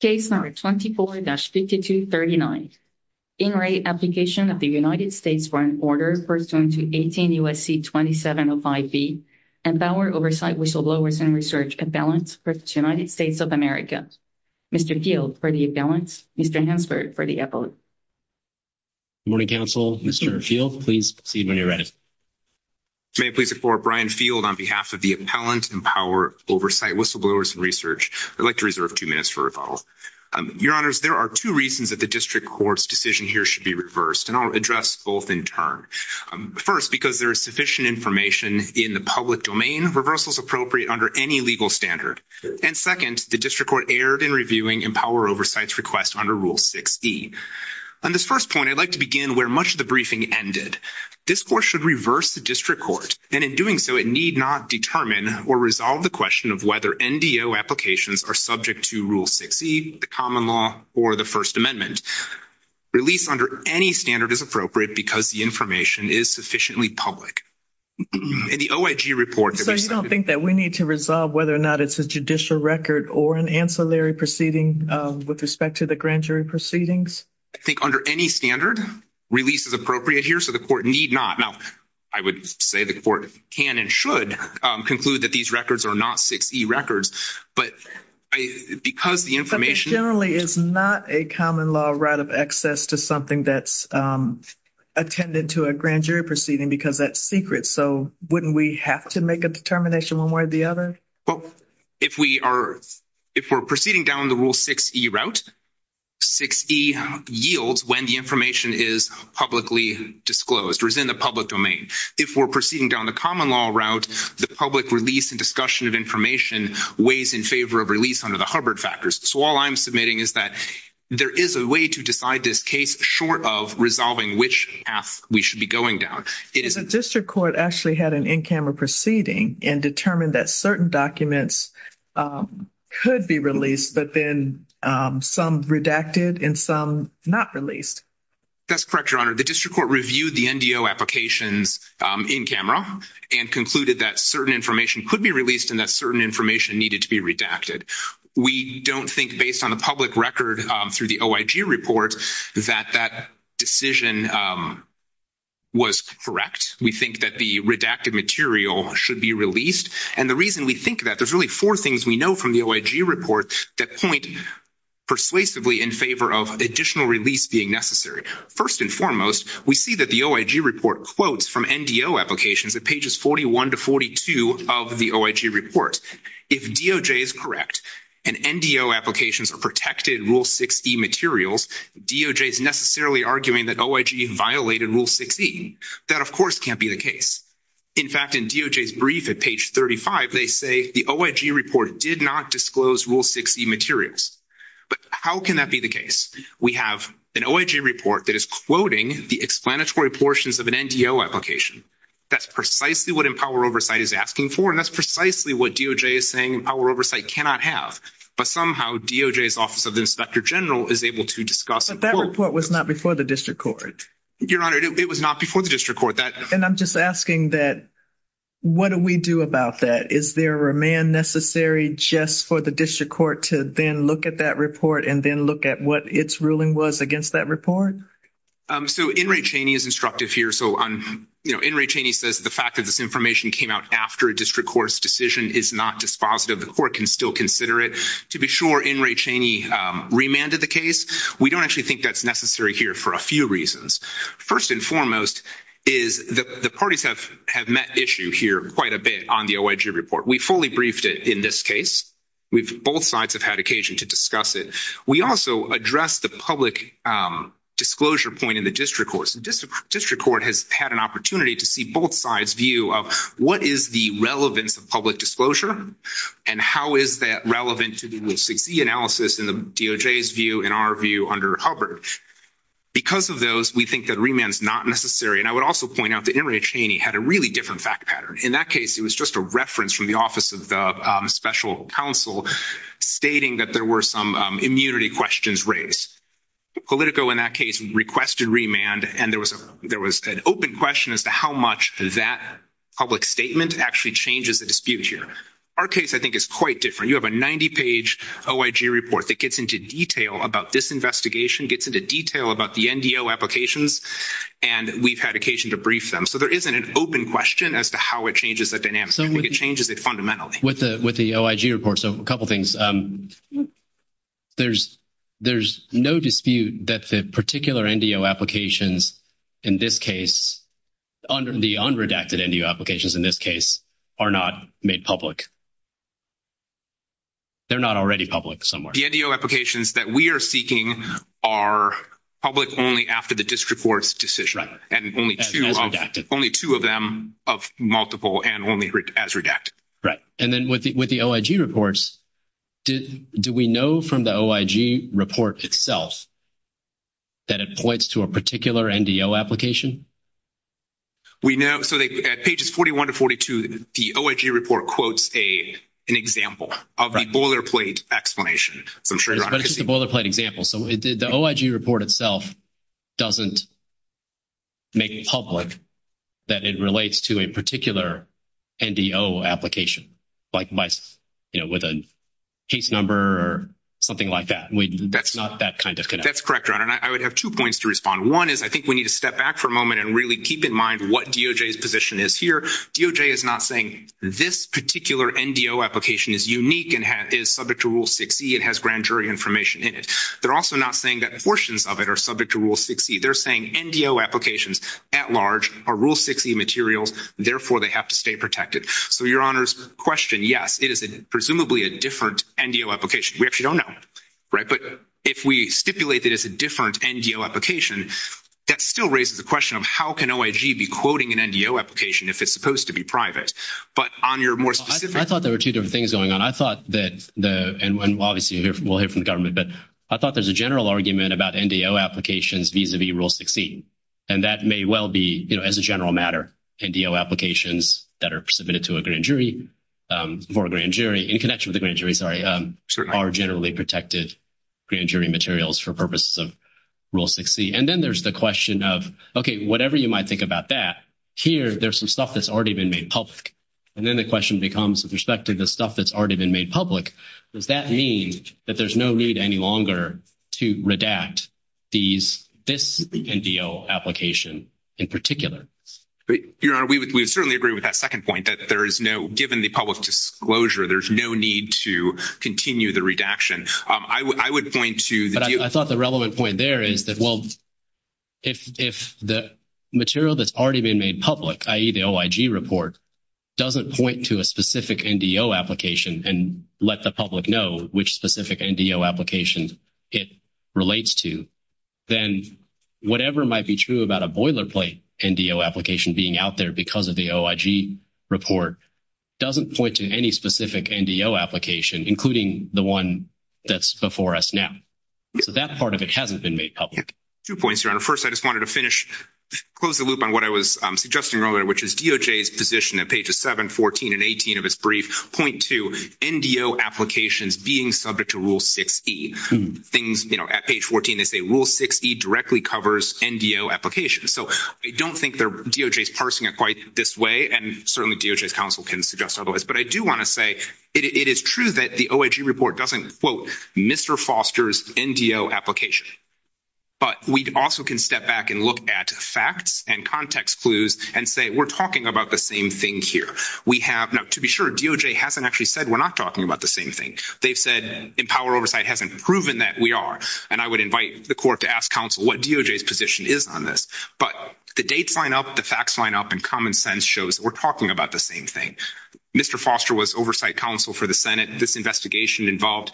Case number 24-5239, In-Rate Application of the United States for an Order pursuant to 18 U.S.C. 2705B, Empower, Oversight, Whistleblowers, and Research, Appellants for the United States of America. Mr. Field for the Appellants, Mr. Hansberg for the Appellant. Good morning, Council. Mr. Field, please proceed when you're ready. May I please report, Brian Field on behalf of the Appellant, Empower, Oversight, Whistleblowers, and Research. I'd like to reserve two minutes for rebuttal. Your Honors, there are two reasons that the District Court's decision here should be reversed, and I'll address both in turn. First, because there is sufficient information in the public domain, reversal is appropriate under any legal standard. And second, the District Court erred in reviewing Empower, Oversight's request under Rule 6e. On this first point, I'd like to begin where much of the briefing ended. This Court should reverse the District Court, and in doing so, it need not determine or resolve the question of whether NDO applications are subject to Rule 6e, the common law, or the First Amendment. Release under any standard is appropriate because the information is sufficiently public. In the OIG report that we submitted- So you don't think that we need to resolve whether or not it's a judicial record or an ancillary proceeding with respect to the grand jury proceedings? I think under any standard, release is appropriate here, so the Court need not. Now, I would say the Court can and should conclude that these records are not 6e records, but because the information- But this generally is not a common law right of access to something that's attended to a grand jury proceeding because that's secret. So wouldn't we have to make a determination one way or the other? Well, if we are proceeding down the Rule 6e route, 6e yields when the information is publicly disclosed or is in the public domain. If we're proceeding down the common law route, the public release and discussion of information weighs in favor of release under the Hubbard factors. So all I'm submitting is that there is a way to decide this case short of resolving which path we should be going down. The District Court actually had an in-camera proceeding and determined that certain documents could be released, but then some redacted and some not released. That's correct, Your Honor. The District Court reviewed the NDO applications in-camera and concluded that certain information could be released and that certain information needed to be redacted. We don't think based on a public record through the OIG report that that decision was correct. We think that the redacted material should be released. And the reason we think that, there's really four things we know from the OIG report that point persuasively in favor of additional release being necessary. First and foremost, we see that the OIG report quotes from NDO applications at pages 41 to 42 of the OIG report. If DOJ is correct and NDO applications are protected Rule 6e materials, DOJ is necessarily arguing that OIG violated Rule 6e. That, of course, can't be the case. In fact, in DOJ's brief at page 35, they say the OIG report did not disclose Rule 6e materials. But how can that be the case? We have an OIG report that is quoting the explanatory portions of an NDO application. That's precisely what Empower Oversight is asking for. And that's precisely what DOJ is saying Empower Oversight cannot have. But somehow DOJ's Office of the Inspector General is able to discuss. But that report was not before the District Court. Your Honor, it was not before the District Court. And I'm just asking that, what do we do about that? Is there a remand necessary just for the District Court to then look at that report and then look at what its ruling was against that report? So N. Ray Cheney is instructive here. So N. Ray Cheney says the fact that this information came out after a District Court's decision is not dispositive. The Court can still consider it. To be sure, N. Ray Cheney remanded the case. We don't actually think that's necessary here for a few reasons. First and foremost is the parties have met issue here quite a bit on the OIG report. We fully briefed it in this case. Both sides have had occasion to discuss it. We also addressed the public disclosure point in the District Court. The District Court has had an opportunity to see both sides' view of what is the relevance of public disclosure and how is that relevant to the 6E analysis in the DOJ's view and our view under Hubbard. Because of those, we think that remand is not necessary. And I would also point out that N. Ray Cheney had a really different fact pattern. In that case, it was just a reference from the Office of the Special Counsel stating that there were some immunity questions raised. Politico in that case requested remand, and there was an open question as to how much that public statement actually changes the dispute here. Our case, I think, is quite different. You have a 90-page OIG report that gets into detail about this investigation, gets into detail about the NDO applications, and we've had occasion to brief them. So there isn't an open question as to how it changes the dynamics. I think it changes it fundamentally. With the OIG report, so a couple of things. There's no dispute that the particular NDO applications in this case, the unredacted NDO applications in this case, are not made public. They're not already public somewhere. The NDO applications that we are seeking are public only after the District Court's decision. And only two of them of multiple and only as redacted. And then with the OIG reports, do we know from the OIG report itself that it points to a particular NDO application? We know. So at pages 41 to 42, the OIG report quotes an example of the boilerplate explanation. But it's just a boilerplate example. So the OIG report itself doesn't make it public that it relates to a particular NDO application. Like with a case number or something like that. That's not that kind of connection. That's correct, Ron, and I would have two points to respond. One is I think we need to step back for a moment and really keep in mind what DOJ's position is here. DOJ is not saying this particular NDO application is unique and is subject to Rule 6e. It has grand jury information in it. They're also not saying that portions of it are subject to Rule 6e. They're saying NDO applications at large are Rule 6e materials. Therefore, they have to stay protected. So your Honor's question, yes, it is presumably a different NDO application. We actually don't know, right? But if we stipulate that it's a different NDO application, that still raises the question of how can OIG be quoting an NDO application if it's supposed to be private? But on your more specific... I thought there were two different things going on. I thought that, and obviously we'll hear from the government, but I thought there's a general argument about NDO applications vis-a-vis Rule 6e. And that may well be, you know, as a general matter, NDO applications that are submitted to a grand jury, for a grand jury, in connection with the grand jury, sorry, are generally protected grand jury materials for purposes of Rule 6e. And then there's the question of, okay, whatever you might think about that, here, there's some stuff that's already been made public. And then the question becomes, with respect to the stuff that's already been made public, does that mean that there's no need any longer to redact these, this NDO application in particular? Your Honor, we would certainly agree with that second point, that there is no, given the public disclosure, there's no need to continue the redaction. I would point to... I thought the relevant point there is that, well, if the material that's already been made public, i.e., the OIG report, doesn't point to a specific NDO application and let the public know which specific NDO application it relates to, then whatever might be true about a boilerplate NDO application being out there because of the OIG report doesn't point to any specific NDO application, including the one that's before us now. So that part of it hasn't been made public. Two points, Your Honor. First, I just wanted to finish, close the loop on what I was suggesting earlier, which is DOJ's position at pages 7, 14, and 18 of its brief point to NDO applications being subject to Rule 6e. Things, you know, at page 14, they say Rule 6e directly covers NDO applications. So I don't think DOJ's parsing it quite this way, and certainly DOJ's counsel can suggest otherwise, but I do want to say it is true that the OIG report doesn't, quote, Mr. Foster's NDO application, but we also can step back and look at facts and context clues and say we're talking about the same thing here. We have, now, to be sure, DOJ hasn't actually said we're not talking about the same thing. They've said Empower Oversight hasn't proven that we are, and I would invite the court to ask counsel what DOJ's position is on this, but the dates line up, the facts line up, and common sense shows we're talking about the same thing. Mr. Foster was Oversight Counsel for the Senate. This investigation involved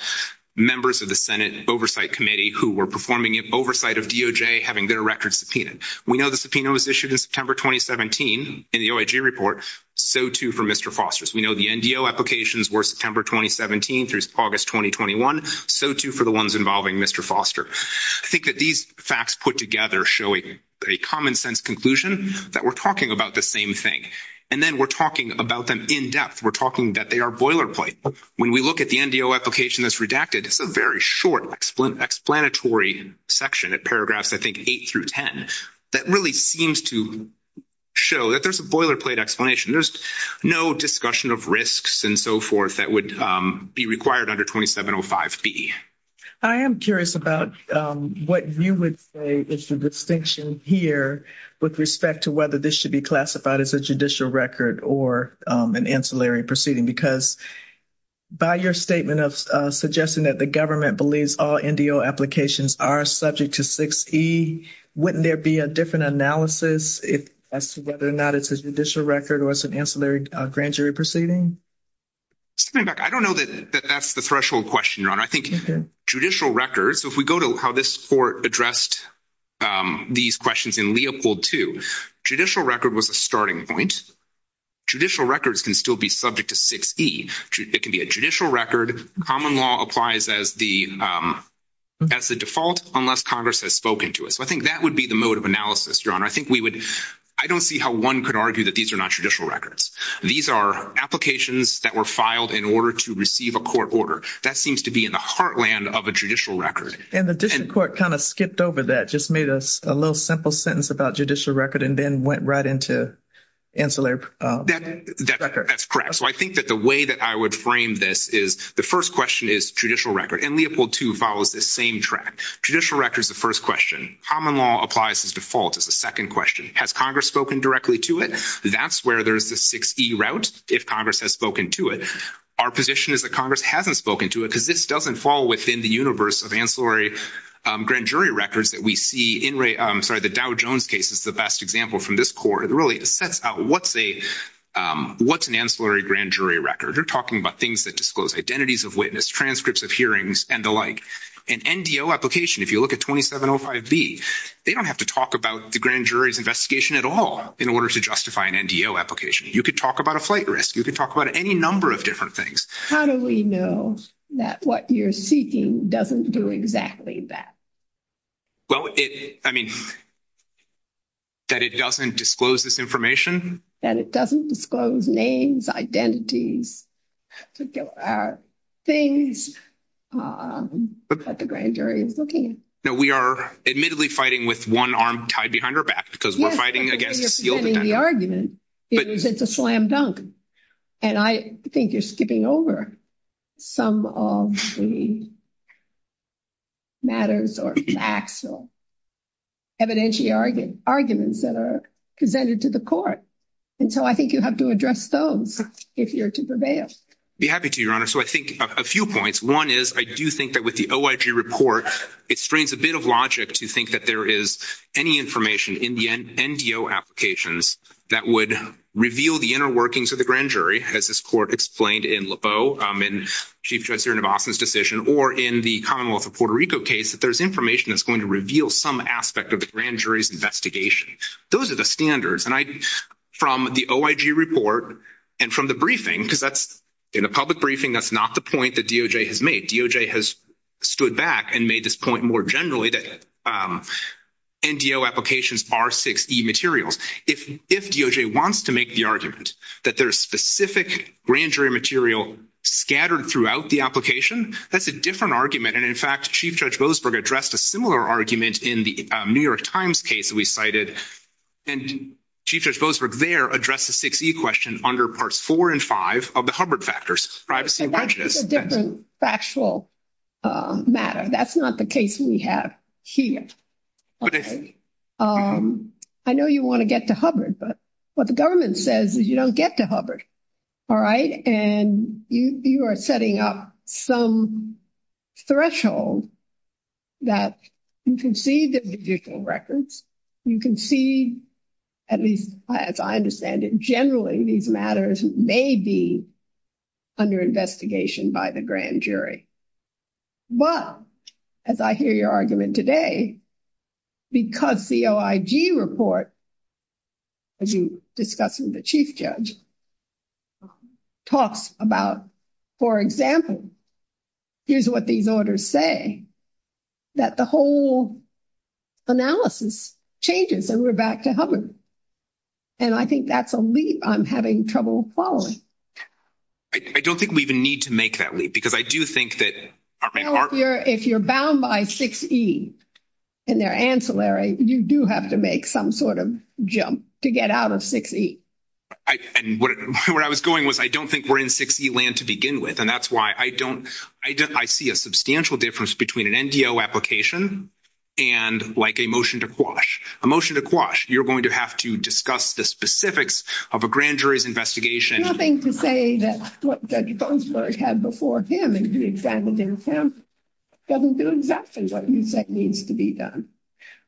members of the Senate Oversight Committee who were performing oversight of DOJ, having their records subpoenaed. We know the subpoena was issued in September 2017 in the OIG report. So, too, for Mr. Foster's. We know the NDO applications were September 2017 through August 2021. So, too, for the ones involving Mr. Foster. I think that these facts put together show a common sense conclusion that we're talking about the same thing, and then we're talking about them in depth. We're talking that they are boilerplate. When we look at the NDO application that's redacted, it's a very short explanatory section at paragraphs, I think, 8 through 10 that really seems to show that there's a boilerplate explanation. There's no discussion of risks and so forth that would be required under 2705B. I am curious about what you would say is the distinction here with respect to whether this should be classified as a judicial record or an ancillary proceeding. Because by your statement of suggesting that the government believes all NDO applications are subject to 6E, wouldn't there be a different analysis as to whether or not it's a judicial record or it's an ancillary grand jury proceeding? Stepping back, I don't know that that's the threshold question, Your Honor. I think judicial records, if we go to how this court addressed these questions in Leopold 2, judicial record was a starting point. Judicial records can still be subject to 6E. It can be a judicial record. Common law applies as the default unless Congress has spoken to it. So I think that would be the mode of analysis, Your Honor. I don't see how one could argue that these are not judicial records. These are applications that were filed in order to receive a court order. That seems to be in the heartland of a judicial record. And the district court kind of skipped over that, just made a little simple sentence about judicial record and then went right into ancillary record. That's correct. So I think that the way that I would frame this is the first question is judicial record. And Leopold 2 follows this same track. Judicial record is the first question. Common law applies as default is the second question. Has Congress spoken directly to it? That's where there's the 6E route, if Congress has spoken to it. Our position is that Congress hasn't spoken to it because this doesn't fall within the universe of ancillary grand jury records that we see in the Dow Jones case. It's the best example from this court. It really sets out what's an ancillary grand jury record. You're talking about things that disclose identities of witness, transcripts of hearings, and the like. An NDO application, if you look at 2705B, they don't have to talk about the grand jury's investigation at all in order to justify an NDO application. You could talk about a flight risk. You could talk about any number of different things. How do we know that what you're seeking doesn't do exactly that? Well, I mean, that it doesn't disclose this information? That it doesn't disclose names, identities, particular things that the grand jury is looking at. No, we are admittedly fighting with one arm tied behind our back because we're fighting against a sealed identity. The argument is it's a slam dunk. And I think you're skipping over some of the matters or facts or evidentiary arguments that are presented to the court. And so I think you have to address those if you're to prevail. Be happy to, Your Honor. So I think a few points. One is I do think that with the OIG report, it strains a bit of logic to think that there is any information in the NDO applications that would reveal the inner workings of the grand jury, as this court explained in Lebeau, in Chief Judge Nivasan's decision, or in the Commonwealth of Puerto Rico case, that there's information that's going to reveal some aspect of the grand jury's investigation. Those are the standards. And I, from the OIG report and from the briefing, because that's, in a public briefing, that's not the point that DOJ has made. DOJ has stood back and made this point more generally that NDO applications are 6E materials. If DOJ wants to make the argument that there's specific grand jury material scattered throughout the application, that's a different argument. And in fact, Chief Judge Boasberg addressed a similar argument in the New York Times case that we cited. And Chief Judge Boasberg there addressed the 6E question under parts four and five of the Hubbard factors, privacy and prejudice. That's a different factual matter. That's not the case we have here. I know you want to get to Hubbard, but what the government says is you don't get to Hubbard. All right? And you are setting up some threshold that you can see the judicial records, you can see, at least as I understand it, generally these matters may be under investigation by the grand jury. But as I hear your argument today, because the OIG report, as you discussed with the Chief Judge, talks about, for example, here's what these orders say, that the whole analysis changes and we're back to Hubbard. And I think that's a leap I'm having trouble following. I don't think we even need to make that leap, because I do think that If you're bound by 6E in their ancillary, you do have to make some sort of jump to get out of 6E. And where I was going was I don't think we're in 6E land to begin with. And that's why I don't, I see a substantial difference between an NDO application and like a motion to quash. A motion to quash, you're going to have to discuss the specifics of a grand jury's Nothing to say that what Judge Gonsberg had before him and did in front of him doesn't do exactly what you said needs to be done.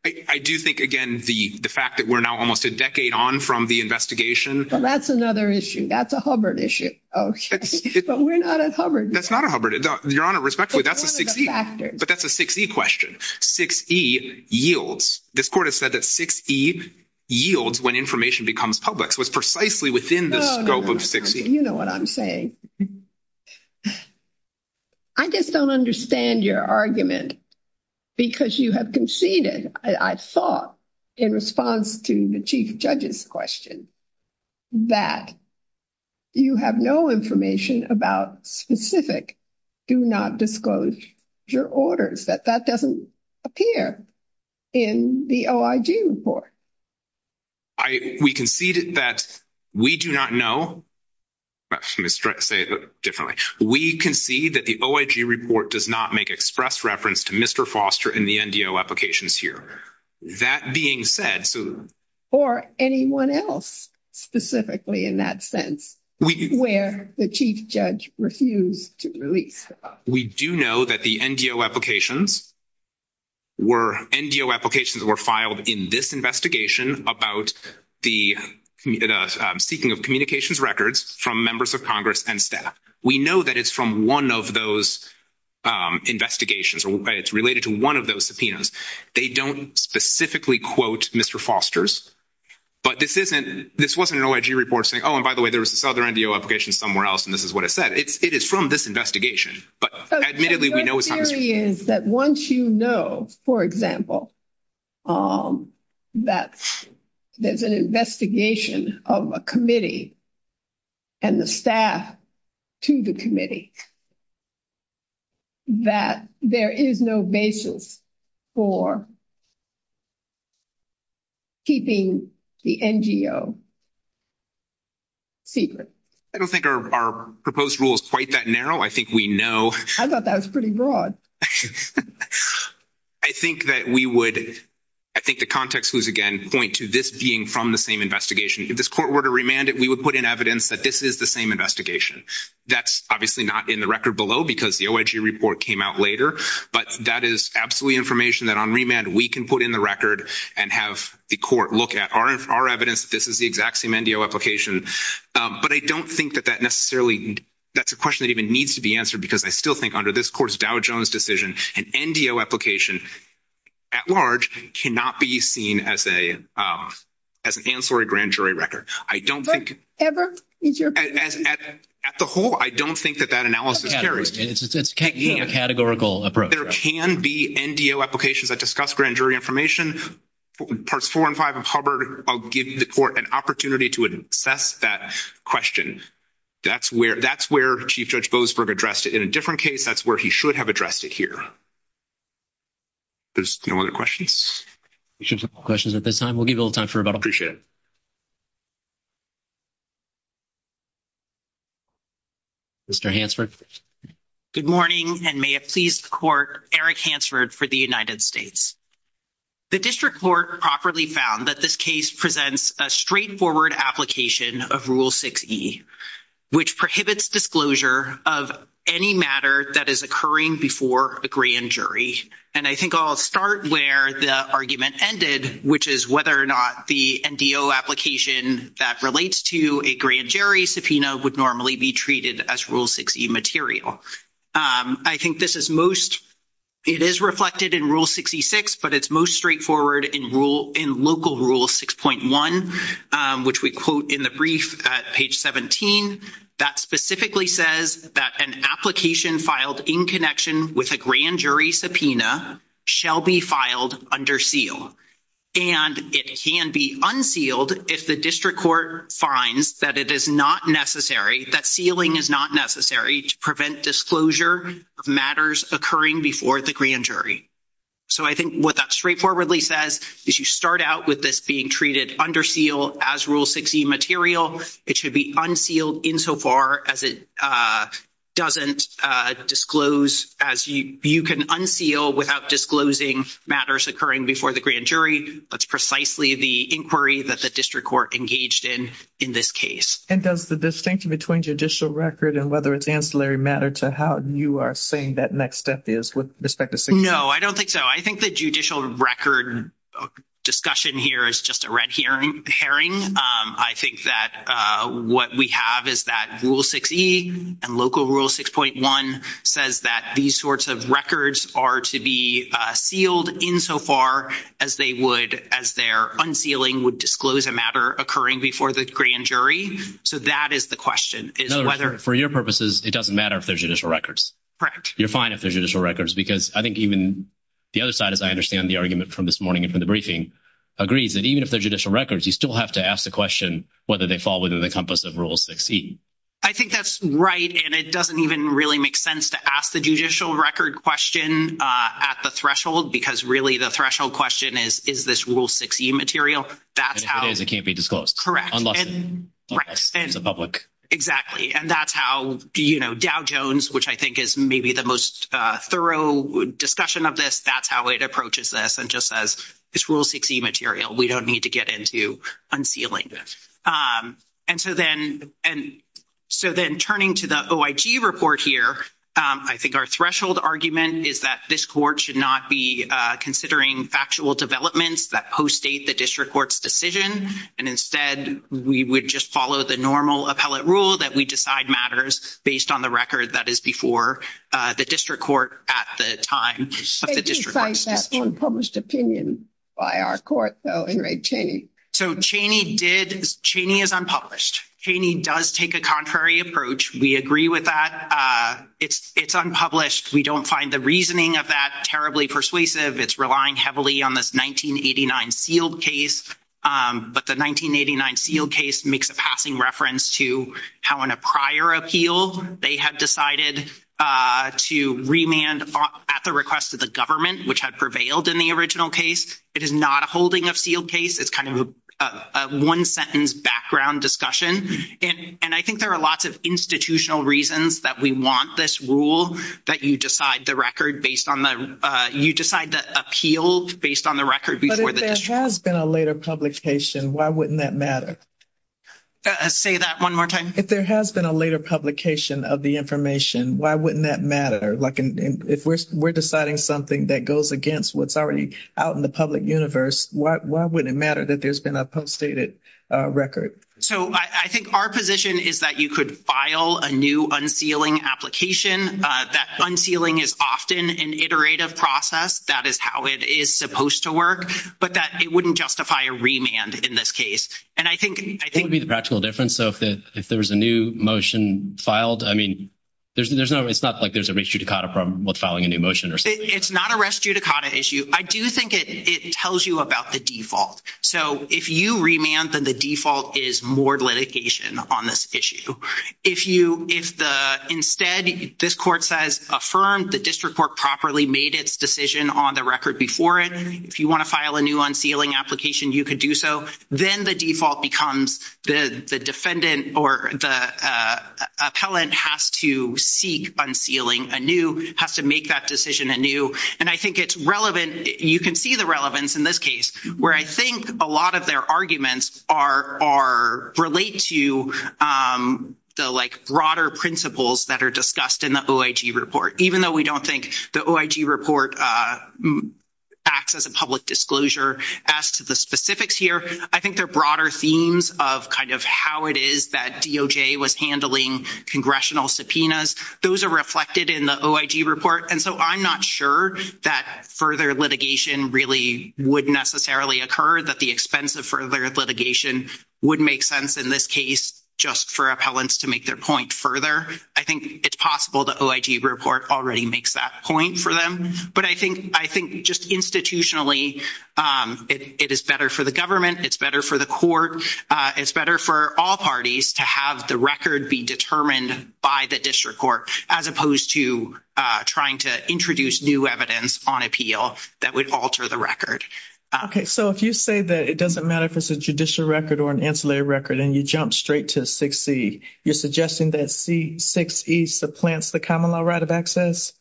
I do think, again, the fact that we're now almost a decade on from the investigation. That's another issue. That's a Hubbard issue. But we're not at Hubbard. That's not a Hubbard. Your Honor, respectfully, that's a 6E. But that's a 6E question. 6E yields. This Court has said that 6E yields when information becomes public. So it's precisely within the scope of 6E. You know what I'm saying. I just don't understand your argument because you have conceded, I thought in response to the Chief Judge's question, that you have no information about specific, do not disclose your orders, that that doesn't appear in the OIG report. We conceded that we do not know. Let me say it differently. We concede that the OIG report does not make express reference to Mr. Foster and the NDO applications here. That being said. Or anyone else specifically in that sense where the Chief Judge refused to release. We do know that the NDO applications were filed in this investigation about the seeking of communications records from members of Congress and staff. We know that it's from one of those investigations. It's related to one of those subpoenas. They don't specifically quote Mr. Foster's. But this wasn't an OIG report saying, oh, and by the way, there was this other NDO application somewhere else and this is what it said. It is from this investigation. But admittedly, we know it's not. Your theory is that once you know, for example, that there's an investigation of a committee and the staff to the committee, that there is no basis for keeping the NGO secret. I don't think our proposed rule is quite that narrow. I think we know. I thought that was pretty broad. I think that we would, I think the context was again, point to this being from the same investigation. If this court were to remand it, we would put in evidence that this is the same investigation. That's obviously not in the record below because the OIG report came out later. But that is absolutely information that on remand, we can put in the record and have the court look at our evidence that this is the exact same NDO application. But I don't think that that necessarily, that's a question that even needs to be answered because I still think under this court's Dow Jones decision, an NDO application at large cannot be seen as an ancillary grand jury record. I don't think, at the whole, I don't think that that analysis carries. It's a categorical approach. There can be NDO applications that discuss grand jury information. Parts four and five of Hubbard, I'll give the court an opportunity to assess that question. That's where Chief Judge Boasberg addressed it in a different case. That's where he should have addressed it here. There's no other questions? We should have no questions at this time. We'll give you a little time for rebuttal. Appreciate it. Mr. Hansford. Good morning and may it please the court, Eric Hansford for the United States. The district court properly found that this case presents a straightforward application of Rule 6e, which prohibits disclosure of any matter that is occurring before a grand jury. And I think I'll start where the argument ended, which is whether or not the NDO application that relates to a grand jury subpoena would normally be treated as Rule 6e material. I think this is most, it is reflected in Rule 6e-6, but it's most straightforward in local Rule 6.1, which we quote in the brief at page 17, that specifically says that an application filed in connection with a grand jury subpoena shall be filed under seal. And it can be unsealed if the district court finds that it is not necessary, that sealing is not necessary to prevent disclosure of matters occurring before the grand jury. So I think what that straightforwardly says is you start out with this being treated under seal as Rule 6e material. It should be unsealed insofar as it doesn't disclose, as you can unseal without disclosing matters occurring before the grand jury. That's precisely the inquiry that the district court engaged in in this case. And does the distinction between judicial record and whether it's ancillary matter to how you are saying that next step is with respect to 6e? No, I don't think so. I think the judicial record discussion here is just a red herring. I think that what we have is that Rule 6e and local Rule 6.1 says that these sorts of records are to be sealed insofar as they would, as their unsealing would disclose a matter occurring before the grand jury. So that is the question. In other words, for your purposes, it doesn't matter if they're judicial records. Correct. You're fine if they're judicial records, because I think even the other side, as I understand the argument from this morning and from the briefing, agrees that even if they're judicial records, you still have to ask the question whether they fall within the compass of Rule 6e. I think that's right. And it doesn't even really make sense to ask the judicial record question at the threshold, because really the threshold question is, is this Rule 6e material? If it is, it can't be disclosed. Correct. Unless it's a public. Exactly. And that's how Dow Jones, which I think is maybe the most thorough discussion of this, that's how it approaches this and just says, it's Rule 6e material. We don't need to get into unsealing. And so then turning to the OIG report here, I think our threshold argument is that this court should not be considering factual developments that post-date the district court's decision and instead we would just follow the normal appellate rule that we decide matters based on the record that is before the district court at the time of the district court's decision. They did cite that unpublished opinion by our court, though, in Ray Cheney. So Cheney is unpublished. Cheney does take a contrary approach. We agree with that. It's unpublished. We don't find the reasoning of that terribly persuasive. It's relying heavily on this 1989 sealed case. The 1989 sealed case makes a passing reference to how in a prior appeal they had decided to remand at the request of the government, which had prevailed in the original case. It is not a holding of sealed case. It's kind of a one-sentence background discussion. And I think there are lots of institutional reasons that we want this rule that you decide the record based on the—you decide the appeal based on the record before the district court. If there has been a later publication, why wouldn't that matter? Say that one more time. If there has been a later publication of the information, why wouldn't that matter? Like, if we're deciding something that goes against what's already out in the public universe, why wouldn't it matter that there's been a postdated record? So I think our position is that you could file a new unsealing application. That unsealing is often an iterative process. That is how it is supposed to work. But that it wouldn't justify a remand in this case. And I think— That would be the practical difference. So if there was a new motion filed, I mean, there's no—it's not like there's a res judicata problem with filing a new motion or something. It's not a res judicata issue. I do think it tells you about the default. So if you remand, then the default is more litigation on this issue. If you—if the—instead, this court says, affirmed the district court properly made its decision on the record before it. If you want to file a new unsealing application, you could do so. Then the default becomes the defendant or the appellant has to seek unsealing anew, has to make that decision anew. And I think it's relevant—you can see the relevance in this case, where I think a lot of their arguments are—relate to the, like, broader principles that are discussed in the OIG report. Even though we don't think the OIG report acts as a public disclosure as to the specifics here, I think there are broader themes of kind of how it is that DOJ was handling congressional subpoenas. Those are reflected in the OIG report. And so I'm not sure that further litigation really would necessarily occur, that the expense of further litigation would make sense in this case just for appellants to make their point further. I think it's possible the OIG report already makes that point for them. But I think just institutionally, it is better for the government. It's better for the court. It's better for all parties to have the record be determined by the district court, as opposed to trying to introduce new evidence on appeal that would alter the record. Okay. So if you say that it doesn't matter if it's a judicial record or an ancillary record, and you jump straight to 6C, you're suggesting that 6E supplants the common law right of access?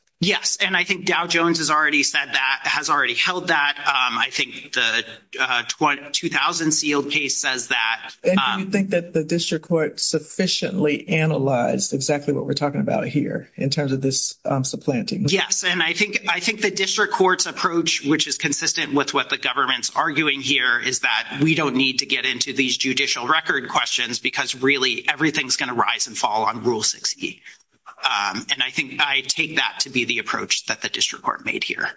And I think Dow Jones has already said that, has already held that. I think the 2000 sealed case says that. And do you think that the district court sufficiently analyzed exactly what we're talking about here in terms of this supplanting? Yes. And I think the district court's approach, which is consistent with what the government's arguing here, is that we don't need to get into these judicial record questions because really everything's going to rise and fall on Rule 6E. And I think I take that to be the approach that the district court made here.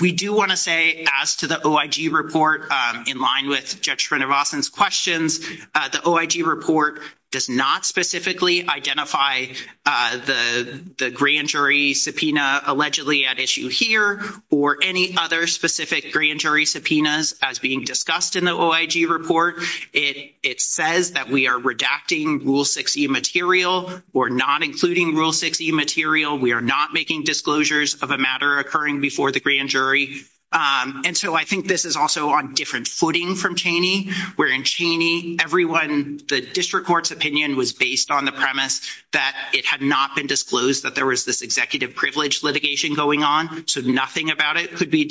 We do want to say, as to the OIG report, in line with Judge Srinivasan's questions, the OIG report does not specifically identify the grand jury subpoena allegedly at issue here, or any other specific grand jury subpoenas as being discussed in the OIG report. It says that we are redacting Rule 6E material. We're not including Rule 6E material. We are not making disclosures of a matter occurring before the grand jury. And so I think this is also on different footing from Cheney, where in Cheney, everyone, the district court's opinion was based on the premise that it had not been disclosed that there was this executive privilege litigation going on, so nothing about it could be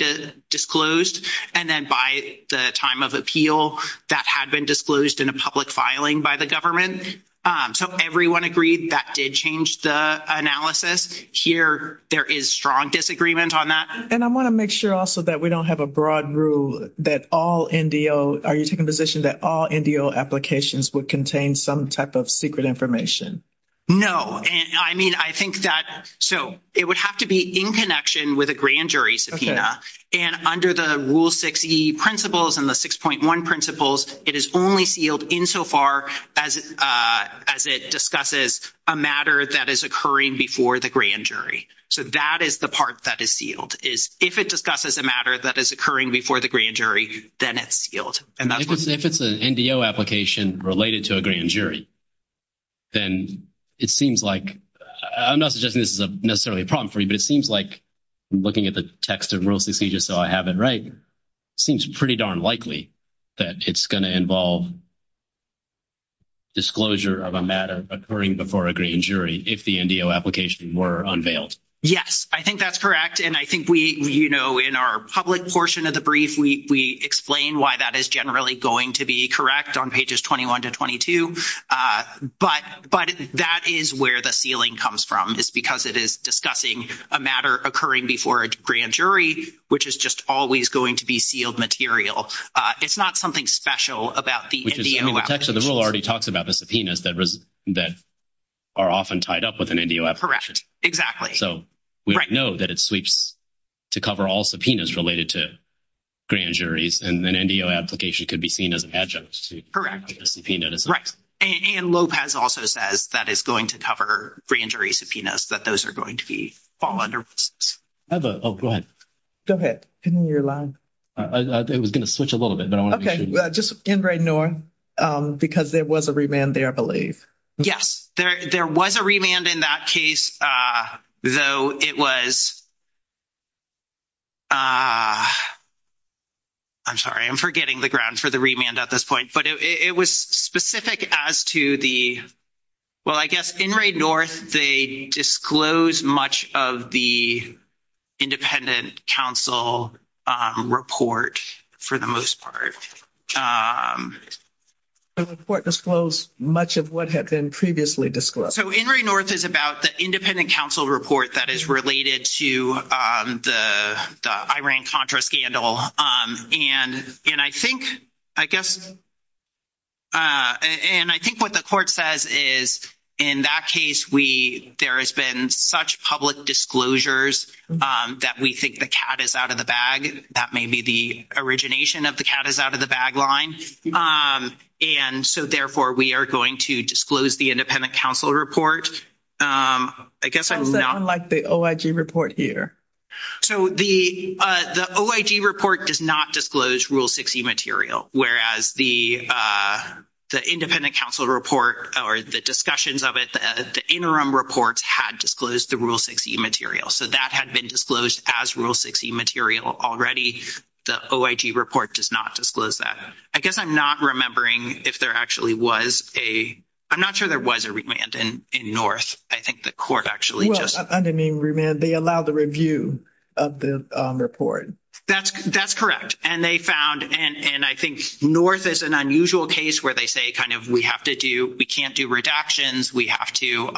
disclosed. And then by the time of appeal, that had been disclosed in a public filing by the government. So everyone agreed that did change the analysis. Here, there is strong disagreement on that. And I want to make sure also that we don't have a broad rule that all NDO, are you taking a position that all NDO applications would contain some type of secret information? No. And I mean, I think that, so it would have to be in connection with a grand jury subpoena. And under the Rule 6E principles and the 6.1 principles, it is only sealed insofar as it discusses a matter that is occurring before the grand jury. So that is the part that is sealed, is if it discusses a matter that is occurring before the grand jury, then it's sealed. If it's an NDO application related to a grand jury, then it seems like, I'm not suggesting this is necessarily a problem for you, but it seems like looking at the text of Rule 6E, just so I have it right, seems pretty darn likely that it's going to involve disclosure of a matter occurring before a grand jury if the NDO application were unveiled. Yes, I think that's correct. And I think we, you know, in our public portion of the brief, we explain why that is generally going to be correct on pages 21 to 22. But that is where the sealing comes from, is because it is discussing a matter occurring before a grand jury, which is just always going to be sealed material. It's not something special about the NDO application. The Rule already talks about the subpoenas that are often tied up with an NDO application. Correct, exactly. So we know that it sweeps to cover all subpoenas related to grand juries, and an NDO application could be seen as an adjunct to a subpoena. Right. And Lopez also says that it's going to cover grand jury subpoenas, that those are going to be fall under risks. Oh, go ahead. Go ahead. In your line. It was going to switch a little bit, but I want to make sure. Okay, just end right now, because there was a remand there, I believe. Yes, there was a remand in that case, though it was I'm sorry, I'm forgetting the grounds for the remand at this point. But it was specific as to the, well, I guess, INRAE-NORTH, they disclose much of the independent counsel report, for the most part. The report disclosed much of what had been previously disclosed. So INRAE-NORTH is about the independent counsel report that is related to the Iran-Contra scandal, and I think, I guess, and I think what the court says is, in that case, we, there has been such public disclosures that we think the cat is out of the bag. That may be the origination of the cat is out of the bag line. And so, therefore, we are going to disclose the independent counsel report. I guess I'm not. Unlike the OIG report here. So the OIG report does not disclose Rule 6e material, whereas the independent counsel report or the discussions of it, the interim reports had disclosed the Rule 6e material. So that had been disclosed as Rule 6e material already. The OIG report does not disclose that. I guess I'm not remembering if there actually was a, I'm not sure there was a remand in NORTH. I think the court actually just. I didn't mean remand. They allow the review of the report. That's, that's correct. And they found, and I think NORTH is an unusual case where they say, kind of, we have to do, we can't do redactions. We have to,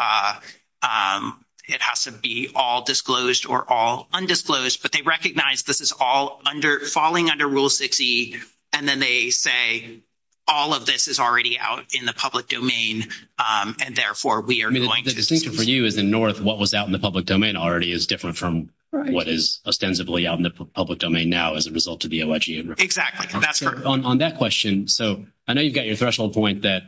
it has to be all disclosed or all undisclosed. But they recognize this is all under, falling under Rule 6e. And then they say, all of this is already out in the public domain. And therefore, we are going to. The distinction for you is in NORTH, what was out in the public domain already is different from what is ostensibly out in the public domain now as a result of the OIG report. Exactly. That's correct. On that question. So I know you've got your threshold point that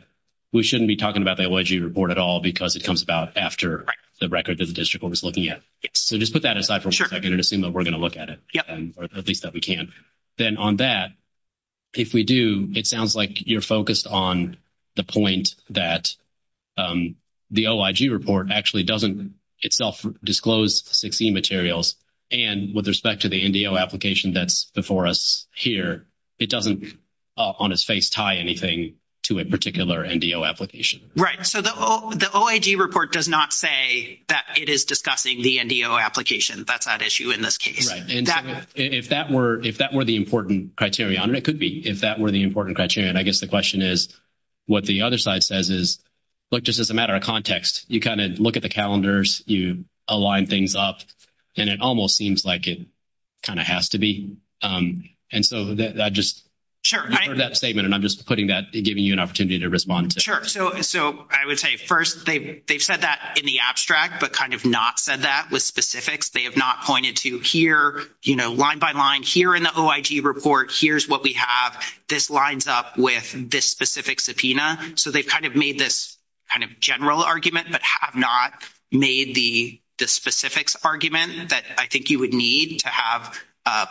we shouldn't be talking about the OIG report at all because it comes about after the record that the district court is looking at. So just put that aside for a second and assume that we're going to look at it, at least that we can. Then on that, if we do, it sounds like you're focused on the point that the OIG report actually doesn't itself disclose 6e materials. And with respect to the NDO application that's before us here, it doesn't, on its face, tie anything to a particular NDO application. Right. So the OIG report does not say that it is discussing the NDO application. That's at issue in this case. If that were the important criteria, and it could be, if that were the important criteria, and I guess the question is, what the other side says is, look, just as a matter of context, you kind of look at the calendars, you align things up, and it almost seems like it kind of has to be. And so I just heard that statement, and I'm just putting that, giving you an opportunity to respond to it. So I would say, first, they've said that in the abstract, but kind of not said that with specifics. They have not pointed to here, you know, line by line, here in the OIG report, here's what we have. This lines up with this specific subpoena. So they've kind of made this kind of general argument, but have not made the specifics argument that I think you would need to have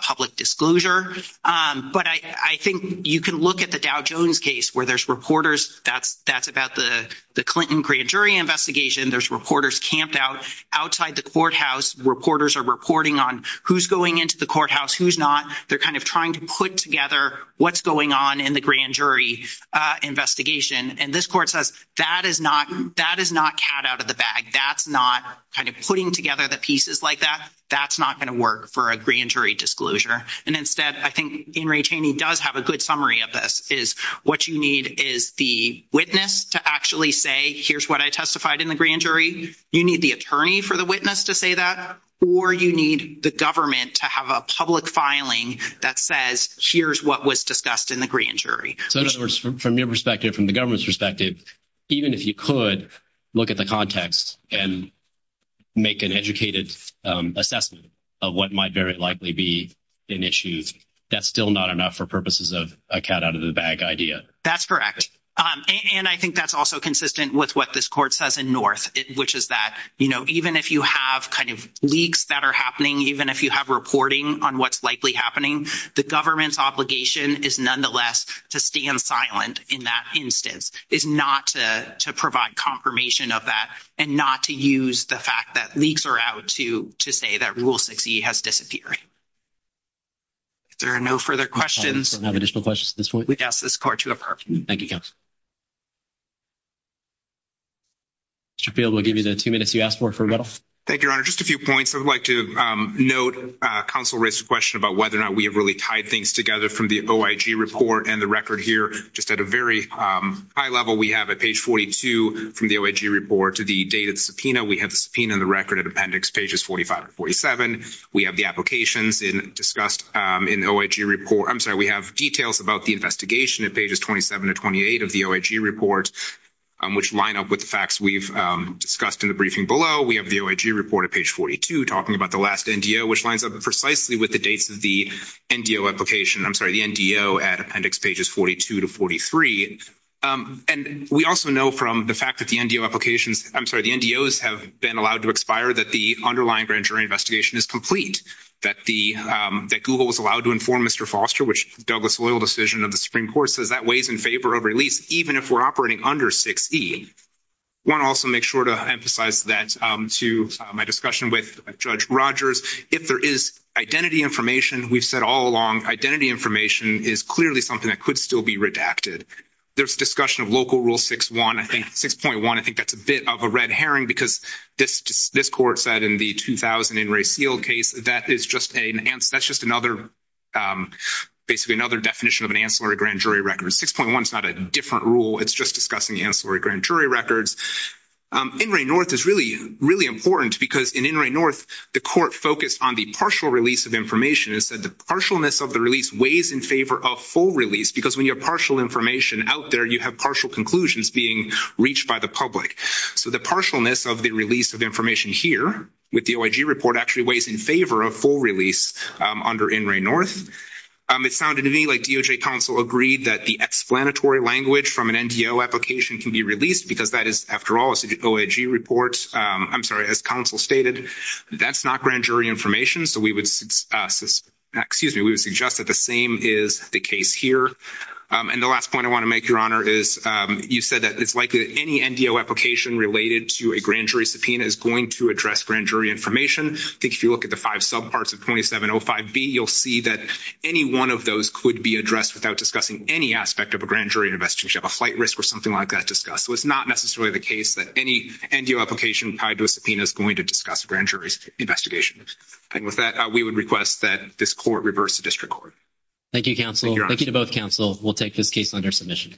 public disclosure. But I think you can look at the Dow Jones case, where there's reporters, that's about the Clinton grand jury investigation. There's reporters camped out outside the courthouse. Reporters are reporting on who's going into the courthouse, who's not. They're kind of trying to put together what's going on in the grand jury investigation. And this court says, that is not, that is not cat out of the bag. That's not kind of putting together the pieces like that. That's not going to work for a grand jury disclosure. And instead, I think In re Taney does have a good summary of this, is what you need is the witness to actually say, here's what I testified in the grand jury. You need the attorney for the witness to say that, or you need the government to have a public filing that says, here's what was discussed in the grand jury. So in other words, from your perspective, from the government's perspective, even if you could look at the context and make an educated assessment of what might very likely be an issue, that's still not enough for purposes of a cat out of the bag idea. That's correct. And I think that's also consistent with what this court says in North, which is that, you know, even if you have kind of leaks that are happening, even if you have reporting on what's likely happening, the government's obligation is nonetheless to stand silent in that instance, is not to provide confirmation of that and not to use the fact that leaks are out to say that Rule 6e has disappeared. There are no further questions. I don't have additional questions at this point. We ask this court to adjourn. Thank you, counsel. Mr. Field, we'll give you the two minutes you asked for for rebuttal. Thank you, Your Honor. Just a few points. I would like to note counsel raised a question about whether or not we have really tied things together from the OIG report and the record here. Just at a very high level, we have at page 42 from the OIG report to the date of the We have the subpoena and the record at appendix pages 45 to 47. We have the applications discussed in the OIG report. We have details about the investigation at pages 27 to 28 of the OIG report, which line up with the facts we've discussed in the briefing below. We have the OIG report at page 42 talking about the last NDO, which lines up precisely with the dates of the NDO application. I'm sorry, the NDO at appendix pages 42 to 43. And we also know from the fact that the NDO applications, I'm sorry, the NDOs have been allowed to expire that the underlying grand jury investigation is complete, that Google was allowed to inform Mr. Foster, which Douglas loyal decision of the Supreme Court says that weighs in favor of release, even if we're operating under 6E. I want to also make sure to emphasize that to my discussion with Judge Rogers. If there is identity information, we've said all along, identity information is clearly something that could still be redacted. There's discussion of local rule 6.1, I think that's a bit of a red herring because this court said in the 2000 In Re Sealed case, that is just another, basically another definition of an ancillary grand jury record. 6.1 is not a different rule, it's just discussing the ancillary grand jury records. In Re North is really, really important because in In Re North, the court focused on the partial release of information and said the partialness of the release weighs in favor of full release because when you have partial information out there, you have partial conclusions being reached by the public. So the partialness of the release of information here with the OIG report actually weighs in favor of full release under In Re North. It sounded to me like DOJ counsel agreed that the explanatory language from an NDO application can be released because that is, after all, an OIG report. I'm sorry, as counsel stated, that's not grand jury information. So we would suggest that the same is the case here. And the last point I want to make, Your Honor, is you said that it's likely that any NDO application related to a grand jury subpoena is going to address grand jury information. I think if you look at the five subparts of 2705B, you'll see that any one of those could be addressed without discussing any aspect of a grand jury investigation. You have a flight risk or something like that discussed. So it's not necessarily the case that any NDO application tied to a subpoena is going to discuss a grand jury's investigation. And with that, we would request that this court reverse the district court. Thank you, counsel. Thank you to both counsel. We'll take this case under submission.